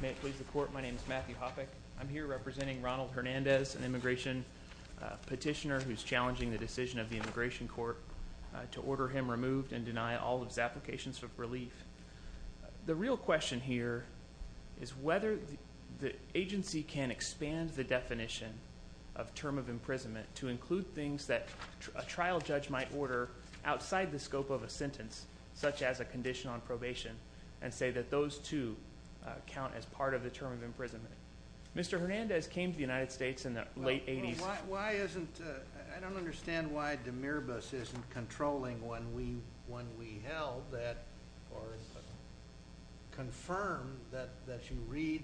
May it please the Court, my name is Matthew Hoppeck. I'm here representing Ronald Hernandez, an immigration petitioner who's challenging the decision of the Immigration Court to order him removed and deny all of his applications for relief. The real question here is whether the agency can expand the definition of term of imprisonment to include things that a trial judge might order outside the scope of a sentence, such as a condition on probation, and say that those two count as part of the term of imprisonment. Mr. Hernandez came to the United States in the late 80s. I don't understand why DMIRBUS isn't controlling when we held that or confirm that you read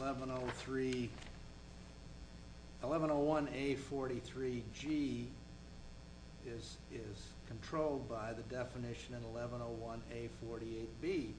1101A43G is controlled by the definition in 1101A48B.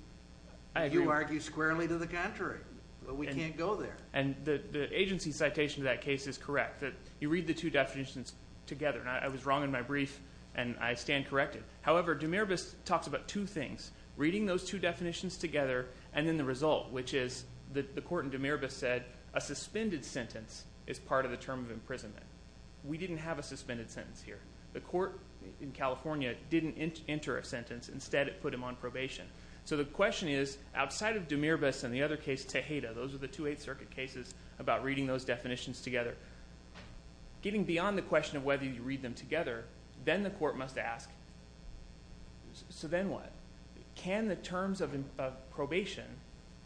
You argue squarely to the contrary, but we can't go there. The agency citation to that case is correct. You read the two definitions together, and I was wrong in my brief, and I stand corrected. However, DMIRBUS talks about two things, reading those two definitions together and then the result, which is the court in DMIRBUS said a suspended sentence is part of the term of imprisonment. We didn't have a suspended sentence here. The court in California didn't enter a sentence. Instead, it put him on probation. So the question is, outside of DMIRBUS and the other case, Tejeda, those are the two Eighth Circuit cases about reading those definitions together, getting beyond the question of whether you read them together, then the court must ask, so then what? Can the terms of probation,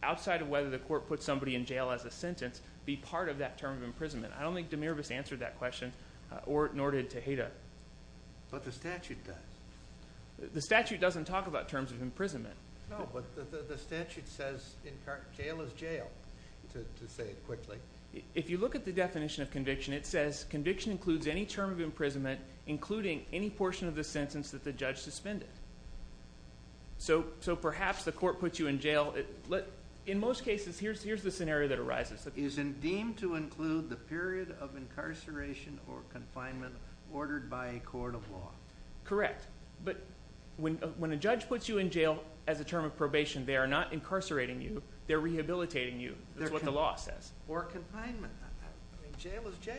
outside of whether the court put somebody in jail as a sentence, be part of that term of imprisonment? I don't think DMIRBUS answered that question, nor did Tejeda. But the statute does. The statute doesn't talk about terms of imprisonment. No, but the statute says jail is jail, to say it quickly. If you look at the definition of conviction, it says conviction includes any term of imprisonment including any portion of the sentence that the judge suspended. So perhaps the court puts you in jail. In most cases, here's the scenario that arises. It is deemed to include the period of incarceration or confinement ordered by a court of law. Correct. But when a judge puts you in jail as a term of probation, they are not incarcerating you. They're rehabilitating you. That's what the law says. Or confinement. Jail is jail.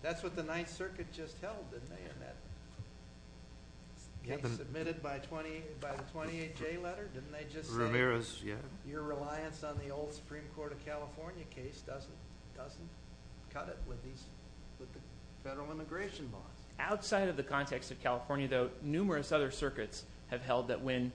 That's what the Ninth Circuit just held, didn't they, in that case submitted by the 28J letter? Didn't they just say your reliance on the old Supreme Court of California case doesn't cut it with these federal immigration laws? Outside of the context of California, though, numerous other circuits have held that when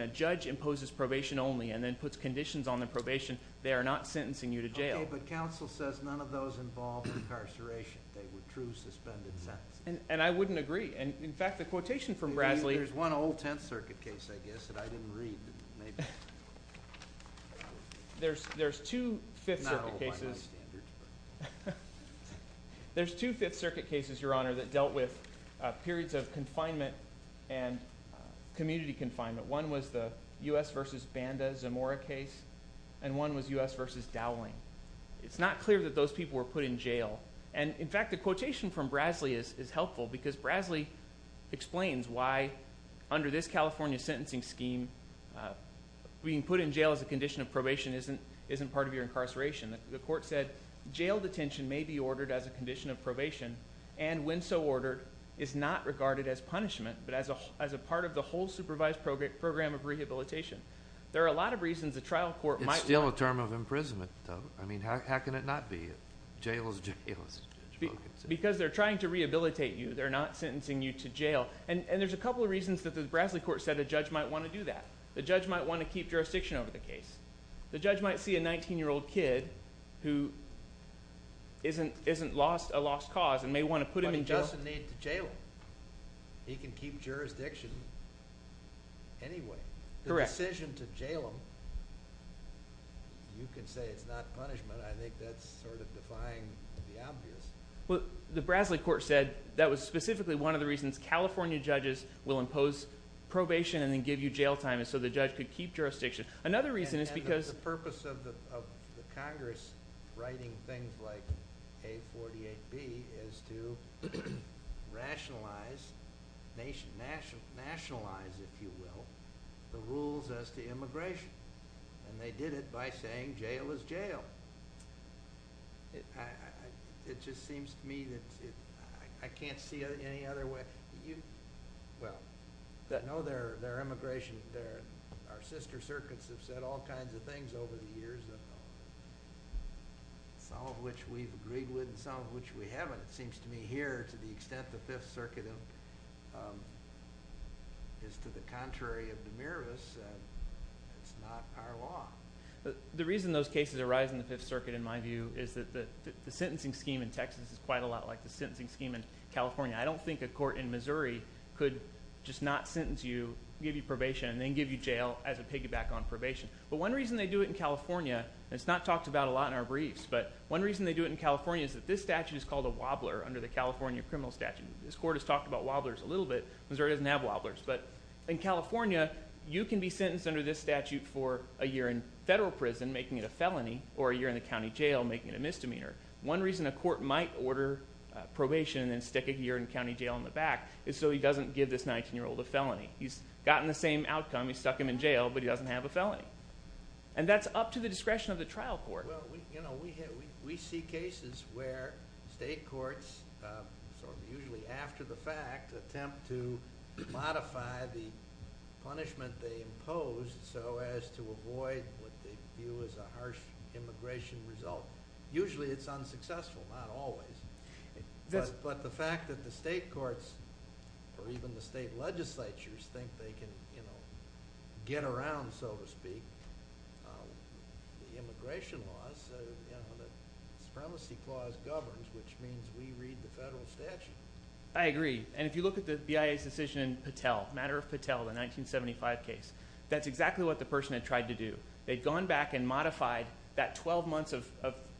a judge imposes probation only and then puts conditions on the probation, they are not sentencing you to jail. Okay, but counsel says none of those involve incarceration. They were true suspended sentences. And I wouldn't agree. In fact, the quotation from Brasley— There's one old Tenth Circuit case, I guess, that I didn't read. There's two Fifth Circuit cases— Not old by my standards. There's two Fifth Circuit cases, Your Honor, that dealt with periods of confinement and community confinement. One was the U.S. v. Banda-Zamora case, and one was U.S. v. Dowling. It's not clear that those people were put in jail. And, in fact, the quotation from Brasley is helpful because Brasley explains why, under this California sentencing scheme, being put in jail as a condition of probation isn't part of your incarceration. The court said, Jail detention may be ordered as a condition of probation and, when so ordered, is not regarded as punishment but as a part of the whole supervised program of rehabilitation. There are a lot of reasons a trial court might want— It's still a term of imprisonment, though. I mean, how can it not be? Jail is jail. Because they're trying to rehabilitate you. They're not sentencing you to jail. And there's a couple of reasons that the Brasley court said a judge might want to do that. The judge might want to keep jurisdiction over the case. The judge might see a 19-year-old kid who isn't a lost cause and may want to put him in jail. But he doesn't need to jail him. He can keep jurisdiction anyway. Correct. The decision to jail him, you can say it's not punishment. I think that's sort of defying the obvious. Well, the Brasley court said that was specifically one of the reasons California judges will impose probation and then give you jail time is so the judge could keep jurisdiction. Another reason is because— And the purpose of the Congress writing things like A48B is to rationalize, nationalize, if you will, the rules as to immigration. And they did it by saying jail is jail. It just seems to me that I can't see any other way. Well, no, their immigration, our sister circuits have said all kinds of things over the years, some of which we've agreed with and some of which we haven't. It seems to me here to the extent the Fifth Circuit is to the contrary of Demiris, it's not our law. The reason those cases arise in the Fifth Circuit, in my view, is that the sentencing scheme in Texas is quite a lot like the sentencing scheme in California. I don't think a court in Missouri could just not sentence you, give you probation, and then give you jail as a piggyback on probation. But one reason they do it in California, and it's not talked about a lot in our briefs, but one reason they do it in California is that this statute is called a wobbler under the California criminal statute. This court has talked about wobblers a little bit. Missouri doesn't have wobblers. But in California, you can be sentenced under this statute for a year in federal prison, making it a felony, or a year in the county jail, making it a misdemeanor. One reason a court might order probation and then stick a year in county jail in the back is so he doesn't give this 19-year-old a felony. He's gotten the same outcome. He stuck him in jail, but he doesn't have a felony. And that's up to the discretion of the trial court. We see cases where state courts, usually after the fact, attempt to modify the punishment they impose so as to avoid what they view as a harsh immigration result. Usually it's unsuccessful, not always. But the fact that the state courts or even the state legislatures think they can get around, so to speak, the immigration law, so the Supremacy Clause governs, which means we read the federal statute. I agree. And if you look at the BIA's decision in Patel, the matter of Patel, the 1975 case, that's exactly what the person had tried to do. They'd gone back and modified that 12 months of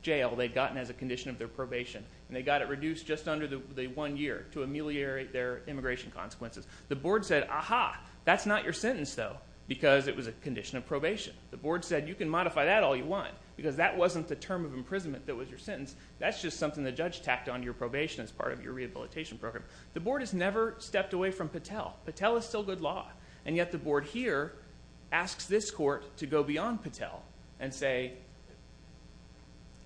jail they'd gotten as a condition of their probation, and they got it reduced just under the one year to ameliorate their immigration consequences. The board said, aha, that's not your sentence, though, because it was a condition of probation. The board said, you can modify that all you want, because that wasn't the term of imprisonment that was your sentence. That's just something the judge tacked onto your probation as part of your rehabilitation program. The board has never stepped away from Patel. Patel is still good law. And yet the board here asks this court to go beyond Patel and say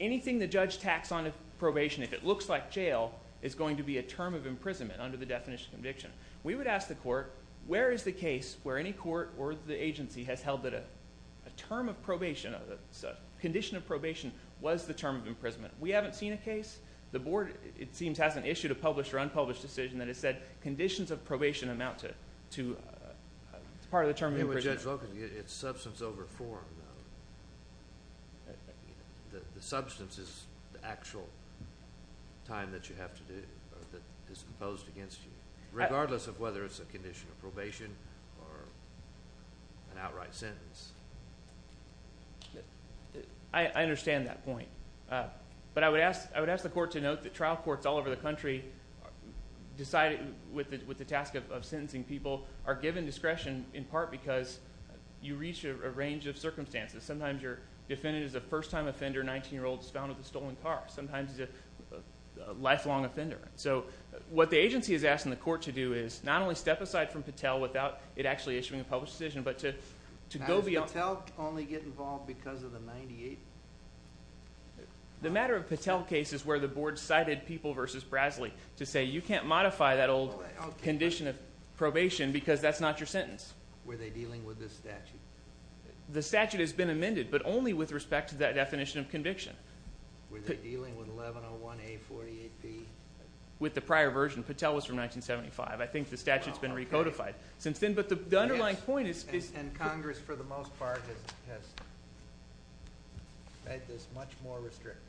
anything the judge tacks onto probation, if it looks like jail, is going to be a term of imprisonment under the definition of conviction. We would ask the court, where is the case where any court or the agency has held that a term of probation, a condition of probation was the term of imprisonment? We haven't seen a case. The board, it seems, hasn't issued a published or unpublished decision that has said conditions of probation amount to part of the term of imprisonment. Judge Locum, it's substance over form. The substance is the actual time that you have to do or that is imposed against you, regardless of whether it's a condition of probation or an outright sentence. I understand that point. But I would ask the court to note that trial courts all over the country, with the task of sentencing people, are given discretion in part because you reach a range of circumstances. Sometimes your defendant is a first-time offender, a 19-year-old who was found with a stolen car. Sometimes he's a lifelong offender. So what the agency is asking the court to do is not only step aside from Patel without it actually issuing a published decision, but to go beyond. How does Patel only get involved because of the 98? The matter of Patel case is where the board cited people versus Brasley to say, you can't modify that old condition of probation because that's not your sentence. Were they dealing with this statute? The statute has been amended, but only with respect to that definition of conviction. Were they dealing with 1101A48B? With the prior version. Patel was from 1975. I think the statute's been recodified since then. But the underlying point is. And Congress, for the most part, has made this much more restrictive.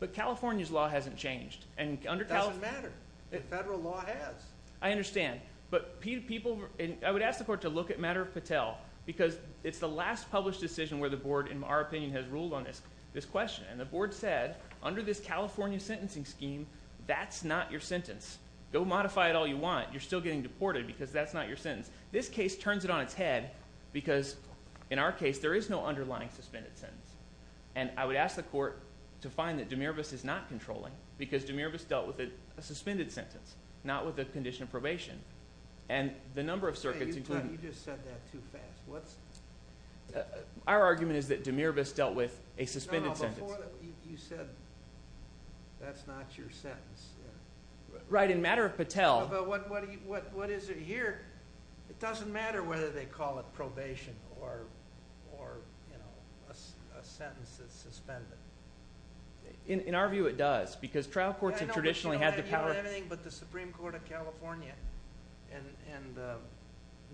But California's law hasn't changed. It doesn't matter. The federal law has. I understand. But I would ask the court to look at matter of Patel because it's the last published decision where the board, in our opinion, has ruled on this question. And the board said, under this California sentencing scheme, that's not your sentence. Go modify it all you want. You're still getting deported because that's not your sentence. This case turns it on its head because, in our case, there is no underlying suspended sentence. And I would ask the court to find that DeMiravis is not controlling because DeMiravis dealt with a suspended sentence, not with a condition of probation. And the number of circuits including. You just said that too fast. Our argument is that DeMiravis dealt with a suspended sentence. You said that's not your sentence. Right, in matter of Patel. What is it here? It doesn't matter whether they call it probation or a sentence that's suspended. In our view, it does because trial courts have traditionally had the power. But the Supreme Court of California and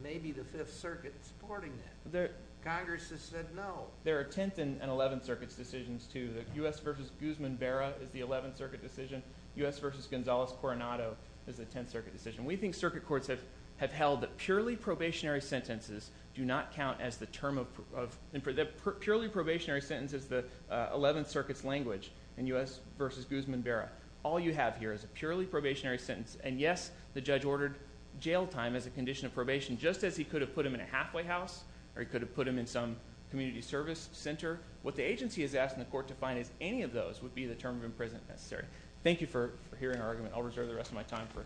maybe the Fifth Circuit supporting that. Congress has said no. There are Tenth and Eleventh Circuit's decisions too. The U.S. v. Guzman-Vera is the Eleventh Circuit decision. U.S. v. Gonzalez-Coronado is the Tenth Circuit decision. We think circuit courts have held that purely probationary sentences do not count as the term of – that purely probationary sentence is the Eleventh Circuit's language in U.S. v. Guzman-Vera. All you have here is a purely probationary sentence. And, yes, the judge ordered jail time as a condition of probation just as he could have put him in a halfway house or he could have put him in some community service center. What the agency has asked the court to find is any of those would be the term of imprisonment necessary. Thank you for hearing our argument. I'll reserve the rest of my time for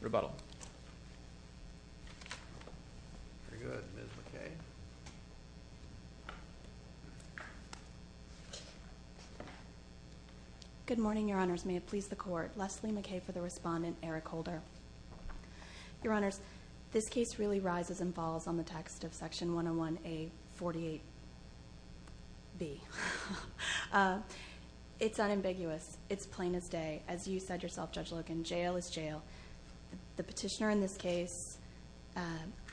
rebuttal. Very good. Ms. McKay. Good morning, Your Honors. May it please the Court. Leslie McKay for the respondent. Eric Holder. Your Honors, this case really rises and falls on the text of Section 101A48B. It's unambiguous. It's plain as day. As you said yourself, Judge Logan, jail is jail. The petitioner in this case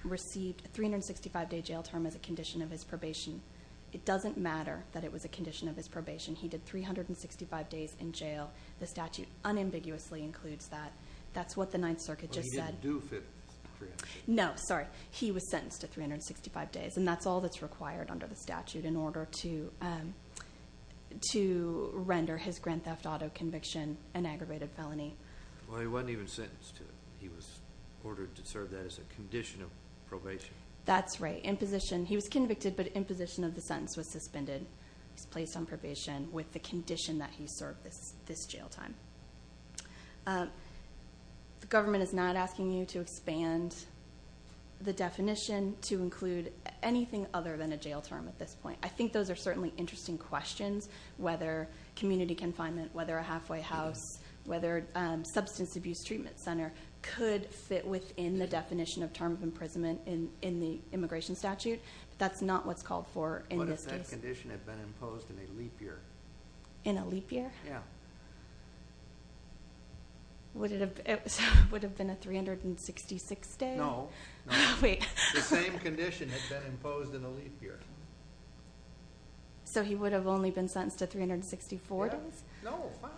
received a 365-day jail term as a condition of his probation. It doesn't matter that it was a condition of his probation. He did 365 days in jail. The statute unambiguously includes that. That's what the Ninth Circuit just said. But he didn't do 365 days. No, sorry. He was sentenced to 365 days. And that's all that's required under the statute in order to render his grand theft auto conviction an aggravated felony. Well, he wasn't even sentenced to it. He was ordered to serve that as a condition of probation. That's right. He was convicted, but imposition of the sentence was suspended. He was placed on probation with the condition that he served this jail time. The government is not asking you to expand the definition to include anything other than a jail term at this point. I think those are certainly interesting questions, whether community confinement, whether a halfway house, whether a substance abuse treatment center could fit within the definition of term of imprisonment in the immigration statute. That's not what's called for in this case. What if that condition had been imposed in a leap year? In a leap year? Yeah. Would it have been a 366 day? No. Wait. The same condition had been imposed in a leap year. So he would have only been sentenced to 364 days? No, five.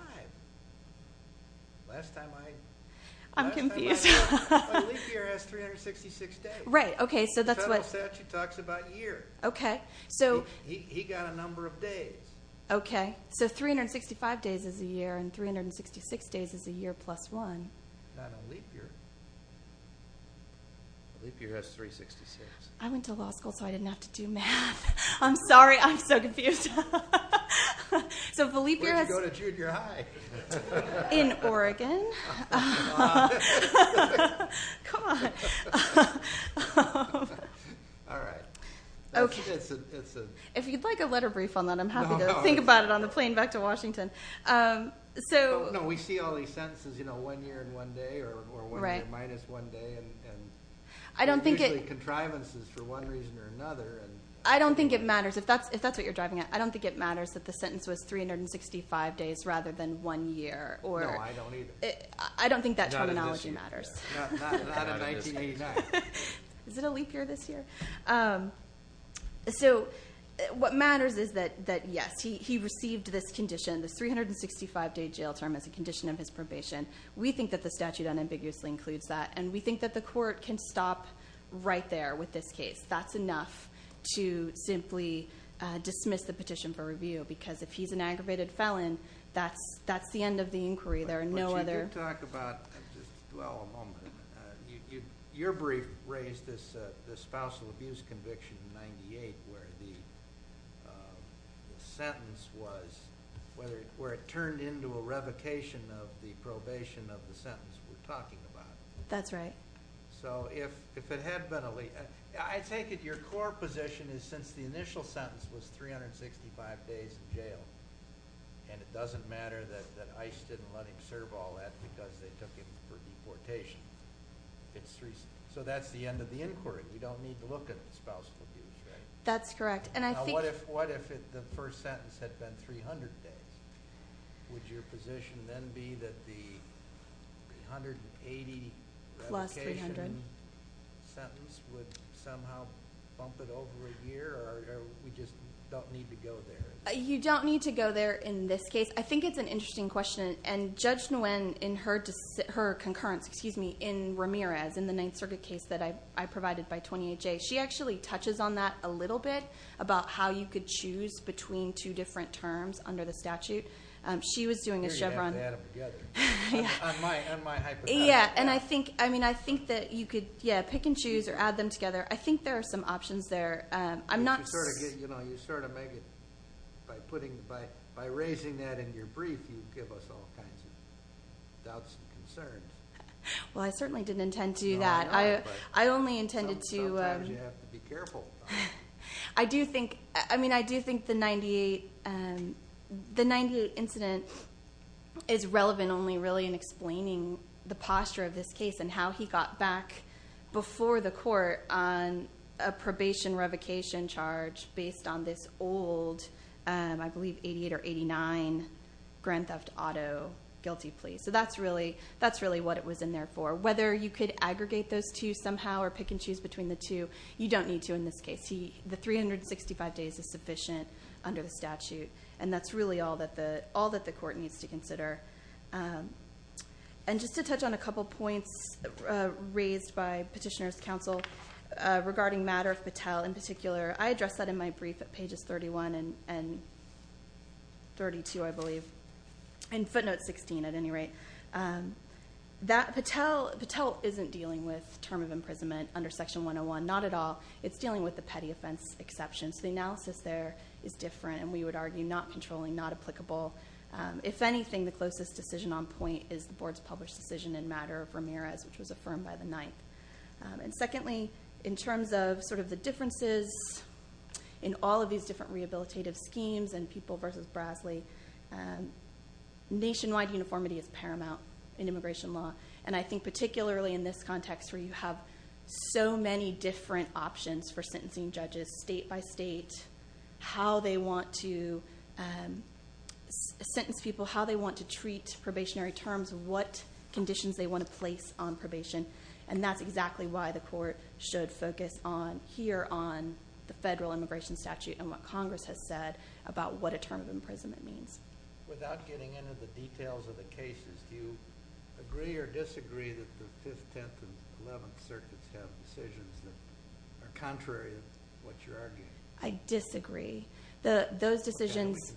Last time I – I'm confused. The leap year has 366 days. Right. Okay, so that's what – Federal statute talks about year. Okay. He got a number of days. Okay. So 365 days is a year, and 366 days is a year plus one. Not a leap year. A leap year has 366. I went to law school, so I didn't have to do math. I'm sorry. I'm so confused. So if a leap year has – Where did you go to junior high? In Oregon. Come on. Come on. All right. Okay. If you'd like a letter brief on that, I'm happy to think about it on the plane back to Washington. No, we see all these sentences, you know, one year and one day, or one year minus one day, and usually contrivances for one reason or another. I don't think it matters. If that's what you're driving at, I don't think it matters that the sentence was 365 days rather than one year. No, I don't either. I don't think that terminology matters. Not in 1989. Is it a leap year this year? So what matters is that, yes, he received this condition, this 365-day jail term as a condition of his probation. We think that the statute unambiguously includes that, and we think that the court can stop right there with this case. That's enough to simply dismiss the petition for review, because if he's an aggravated felon, that's the end of the inquiry. There are no other – Let's talk about, just dwell a moment. Your brief raised this spousal abuse conviction in 1998 where the sentence was, where it turned into a revocation of the probation of the sentence we're talking about. That's right. So if it had been a leap – I take it your core position is since the initial sentence was 365 days in jail, and it doesn't matter that ICE didn't let him serve all that because they took him for deportation. So that's the end of the inquiry. We don't need to look at the spousal abuse, right? That's correct. Now, what if the first sentence had been 300 days? Would your position then be that the 380 revocation sentence would somehow bump it over a year, or we just don't need to go there? You don't need to go there in this case. I think it's an interesting question, and Judge Nguyen, in her concurrence, excuse me, in Ramirez, in the Ninth Circuit case that I provided by 28J, she actually touches on that a little bit about how you could choose between two different terms under the statute. She was doing a Chevron – Or you had to add them together. On my hypothetical. Yeah, and I think that you could, yeah, pick and choose or add them together. I think there are some options there. You sort of make it by raising that in your brief, you give us all kinds of doubts and concerns. Well, I certainly didn't intend to do that. No, I know, but sometimes you have to be careful. I do think the 98 incident is relevant only really in explaining the posture of this case and how he got back before the court on a probation revocation charge based on this old, I believe, 88 or 89 Grand Theft Auto guilty plea. So that's really what it was in there for. Whether you could aggregate those two somehow or pick and choose between the two, you don't need to in this case. The 365 days is sufficient under the statute, and that's really all that the court needs to consider. And just to touch on a couple points raised by Petitioner's Counsel regarding matter of Patel in particular, I addressed that in my brief at pages 31 and 32, I believe, and footnote 16 at any rate. Patel isn't dealing with term of imprisonment under Section 101, not at all. It's dealing with the petty offense exception. So the analysis there is different, and we would argue not controlling, not applicable. If anything, the closest decision on point is the Board's published decision in matter of Ramirez, which was affirmed by the 9th. And secondly, in terms of sort of the differences in all of these different rehabilitative schemes and people versus Brasley, nationwide uniformity is paramount in immigration law, and I think particularly in this context where you have so many different options for sentencing judges state by state, how they want to sentence people, how they want to treat probationary terms, what conditions they want to place on probation. And that's exactly why the court should focus here on the federal immigration statute and what Congress has said about what a term of imprisonment means. Without getting into the details of the cases, do you agree or disagree that the 5th, 10th, and 11th Circuits have decisions that are contrary to what you're arguing? I disagree. Those decisions.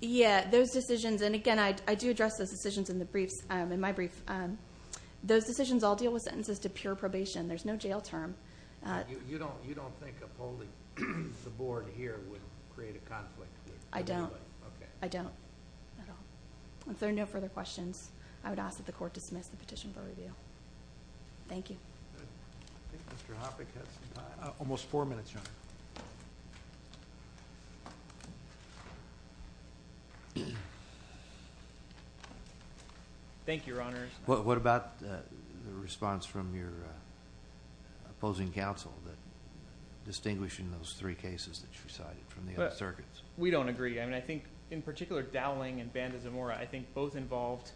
Yeah, those decisions. And again, I do address those decisions in the briefs, in my brief. Those decisions all deal with sentences to pure probation. There's no jail term. You don't think upholding the Board here would create a conflict? I don't. I don't at all. If there are no further questions, I would ask that the court dismiss the petition for review. Thank you. I think Mr. Hoppe has some time. Almost four minutes, Your Honor. Thank you, Your Honors. What about the response from your opposing counsel that distinguishing those three cases that you cited from the other circuits? We don't agree. I mean, I think in particular Dowling and Banda-Zamora, I think both involved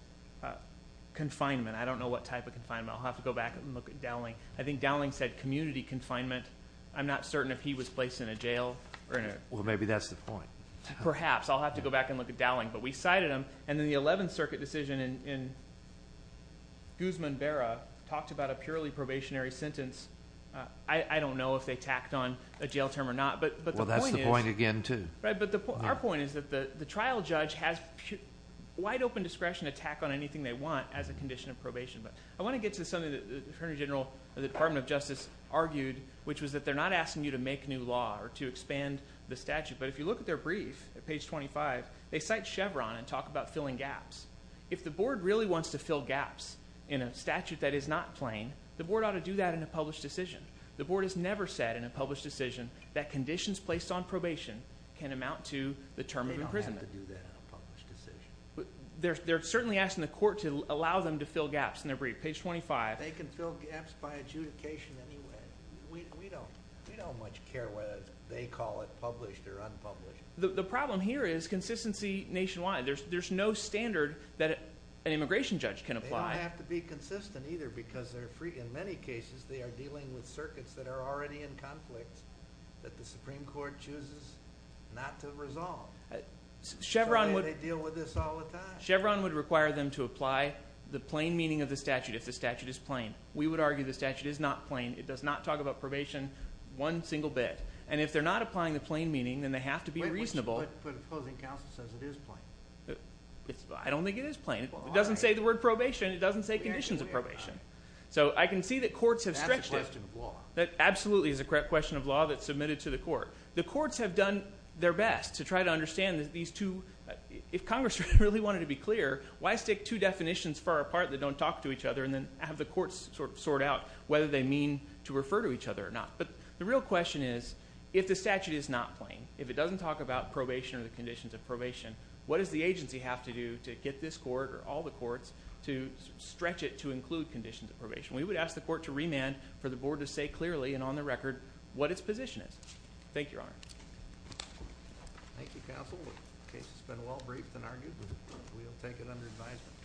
confinement. I don't know what type of confinement. I'll have to go back and look at Dowling. I think Dowling said community confinement. I'm not certain if he was placed in a jail. Well, maybe that's the point. Perhaps. I'll have to go back and look at Dowling. But we cited them. And then the Eleventh Circuit decision in Guzman-Berra talked about a purely probationary sentence. I don't know if they tacked on a jail term or not. Well, that's the point again, too. Right, but our point is that the trial judge has wide open discretion to tack on anything they want as a condition of probation. But I want to get to something that the Attorney General of the Department of Justice argued, which was that they're not asking you to make new law or to expand the statute. But if you look at their brief at page 25, they cite Chevron and talk about filling gaps. If the board really wants to fill gaps in a statute that is not plain, the board ought to do that in a published decision. The board has never said in a published decision that conditions placed on probation can amount to the term of imprisonment. They don't have to do that in a published decision. They're certainly asking the court to allow them to fill gaps in their brief. Page 25. They can fill gaps by adjudication anyway. We don't much care whether they call it published or unpublished. The problem here is consistency nationwide. There's no standard that an immigration judge can apply. They don't have to be consistent either because in many cases they are dealing with circuits that are already in conflict that the Supreme Court chooses not to resolve. So they deal with this all the time? Chevron would require them to apply the plain meaning of the statute if the statute is plain. We would argue the statute is not plain. It does not talk about probation one single bit. And if they're not applying the plain meaning, then they have to be reasonable. But the opposing counsel says it is plain. I don't think it is plain. It doesn't say the word probation. It doesn't say conditions of probation. So I can see that courts have stretched it. That's a question of law. That absolutely is a question of law that's submitted to the court. The courts have done their best to try to understand these two. If Congress really wanted to be clear, why stick two definitions far apart that don't talk to each other and then have the courts sort out whether they mean to refer to each other or not? But the real question is if the statute is not plain, if it doesn't talk about probation or the conditions of probation, what does the agency have to do to get this court or all the courts to stretch it to include conditions of probation? We would ask the court to remand for the board to say clearly and on the record what its position is. Thank you, Your Honor. Thank you, counsel. The case has been well briefed and argued. We will take it under advisement.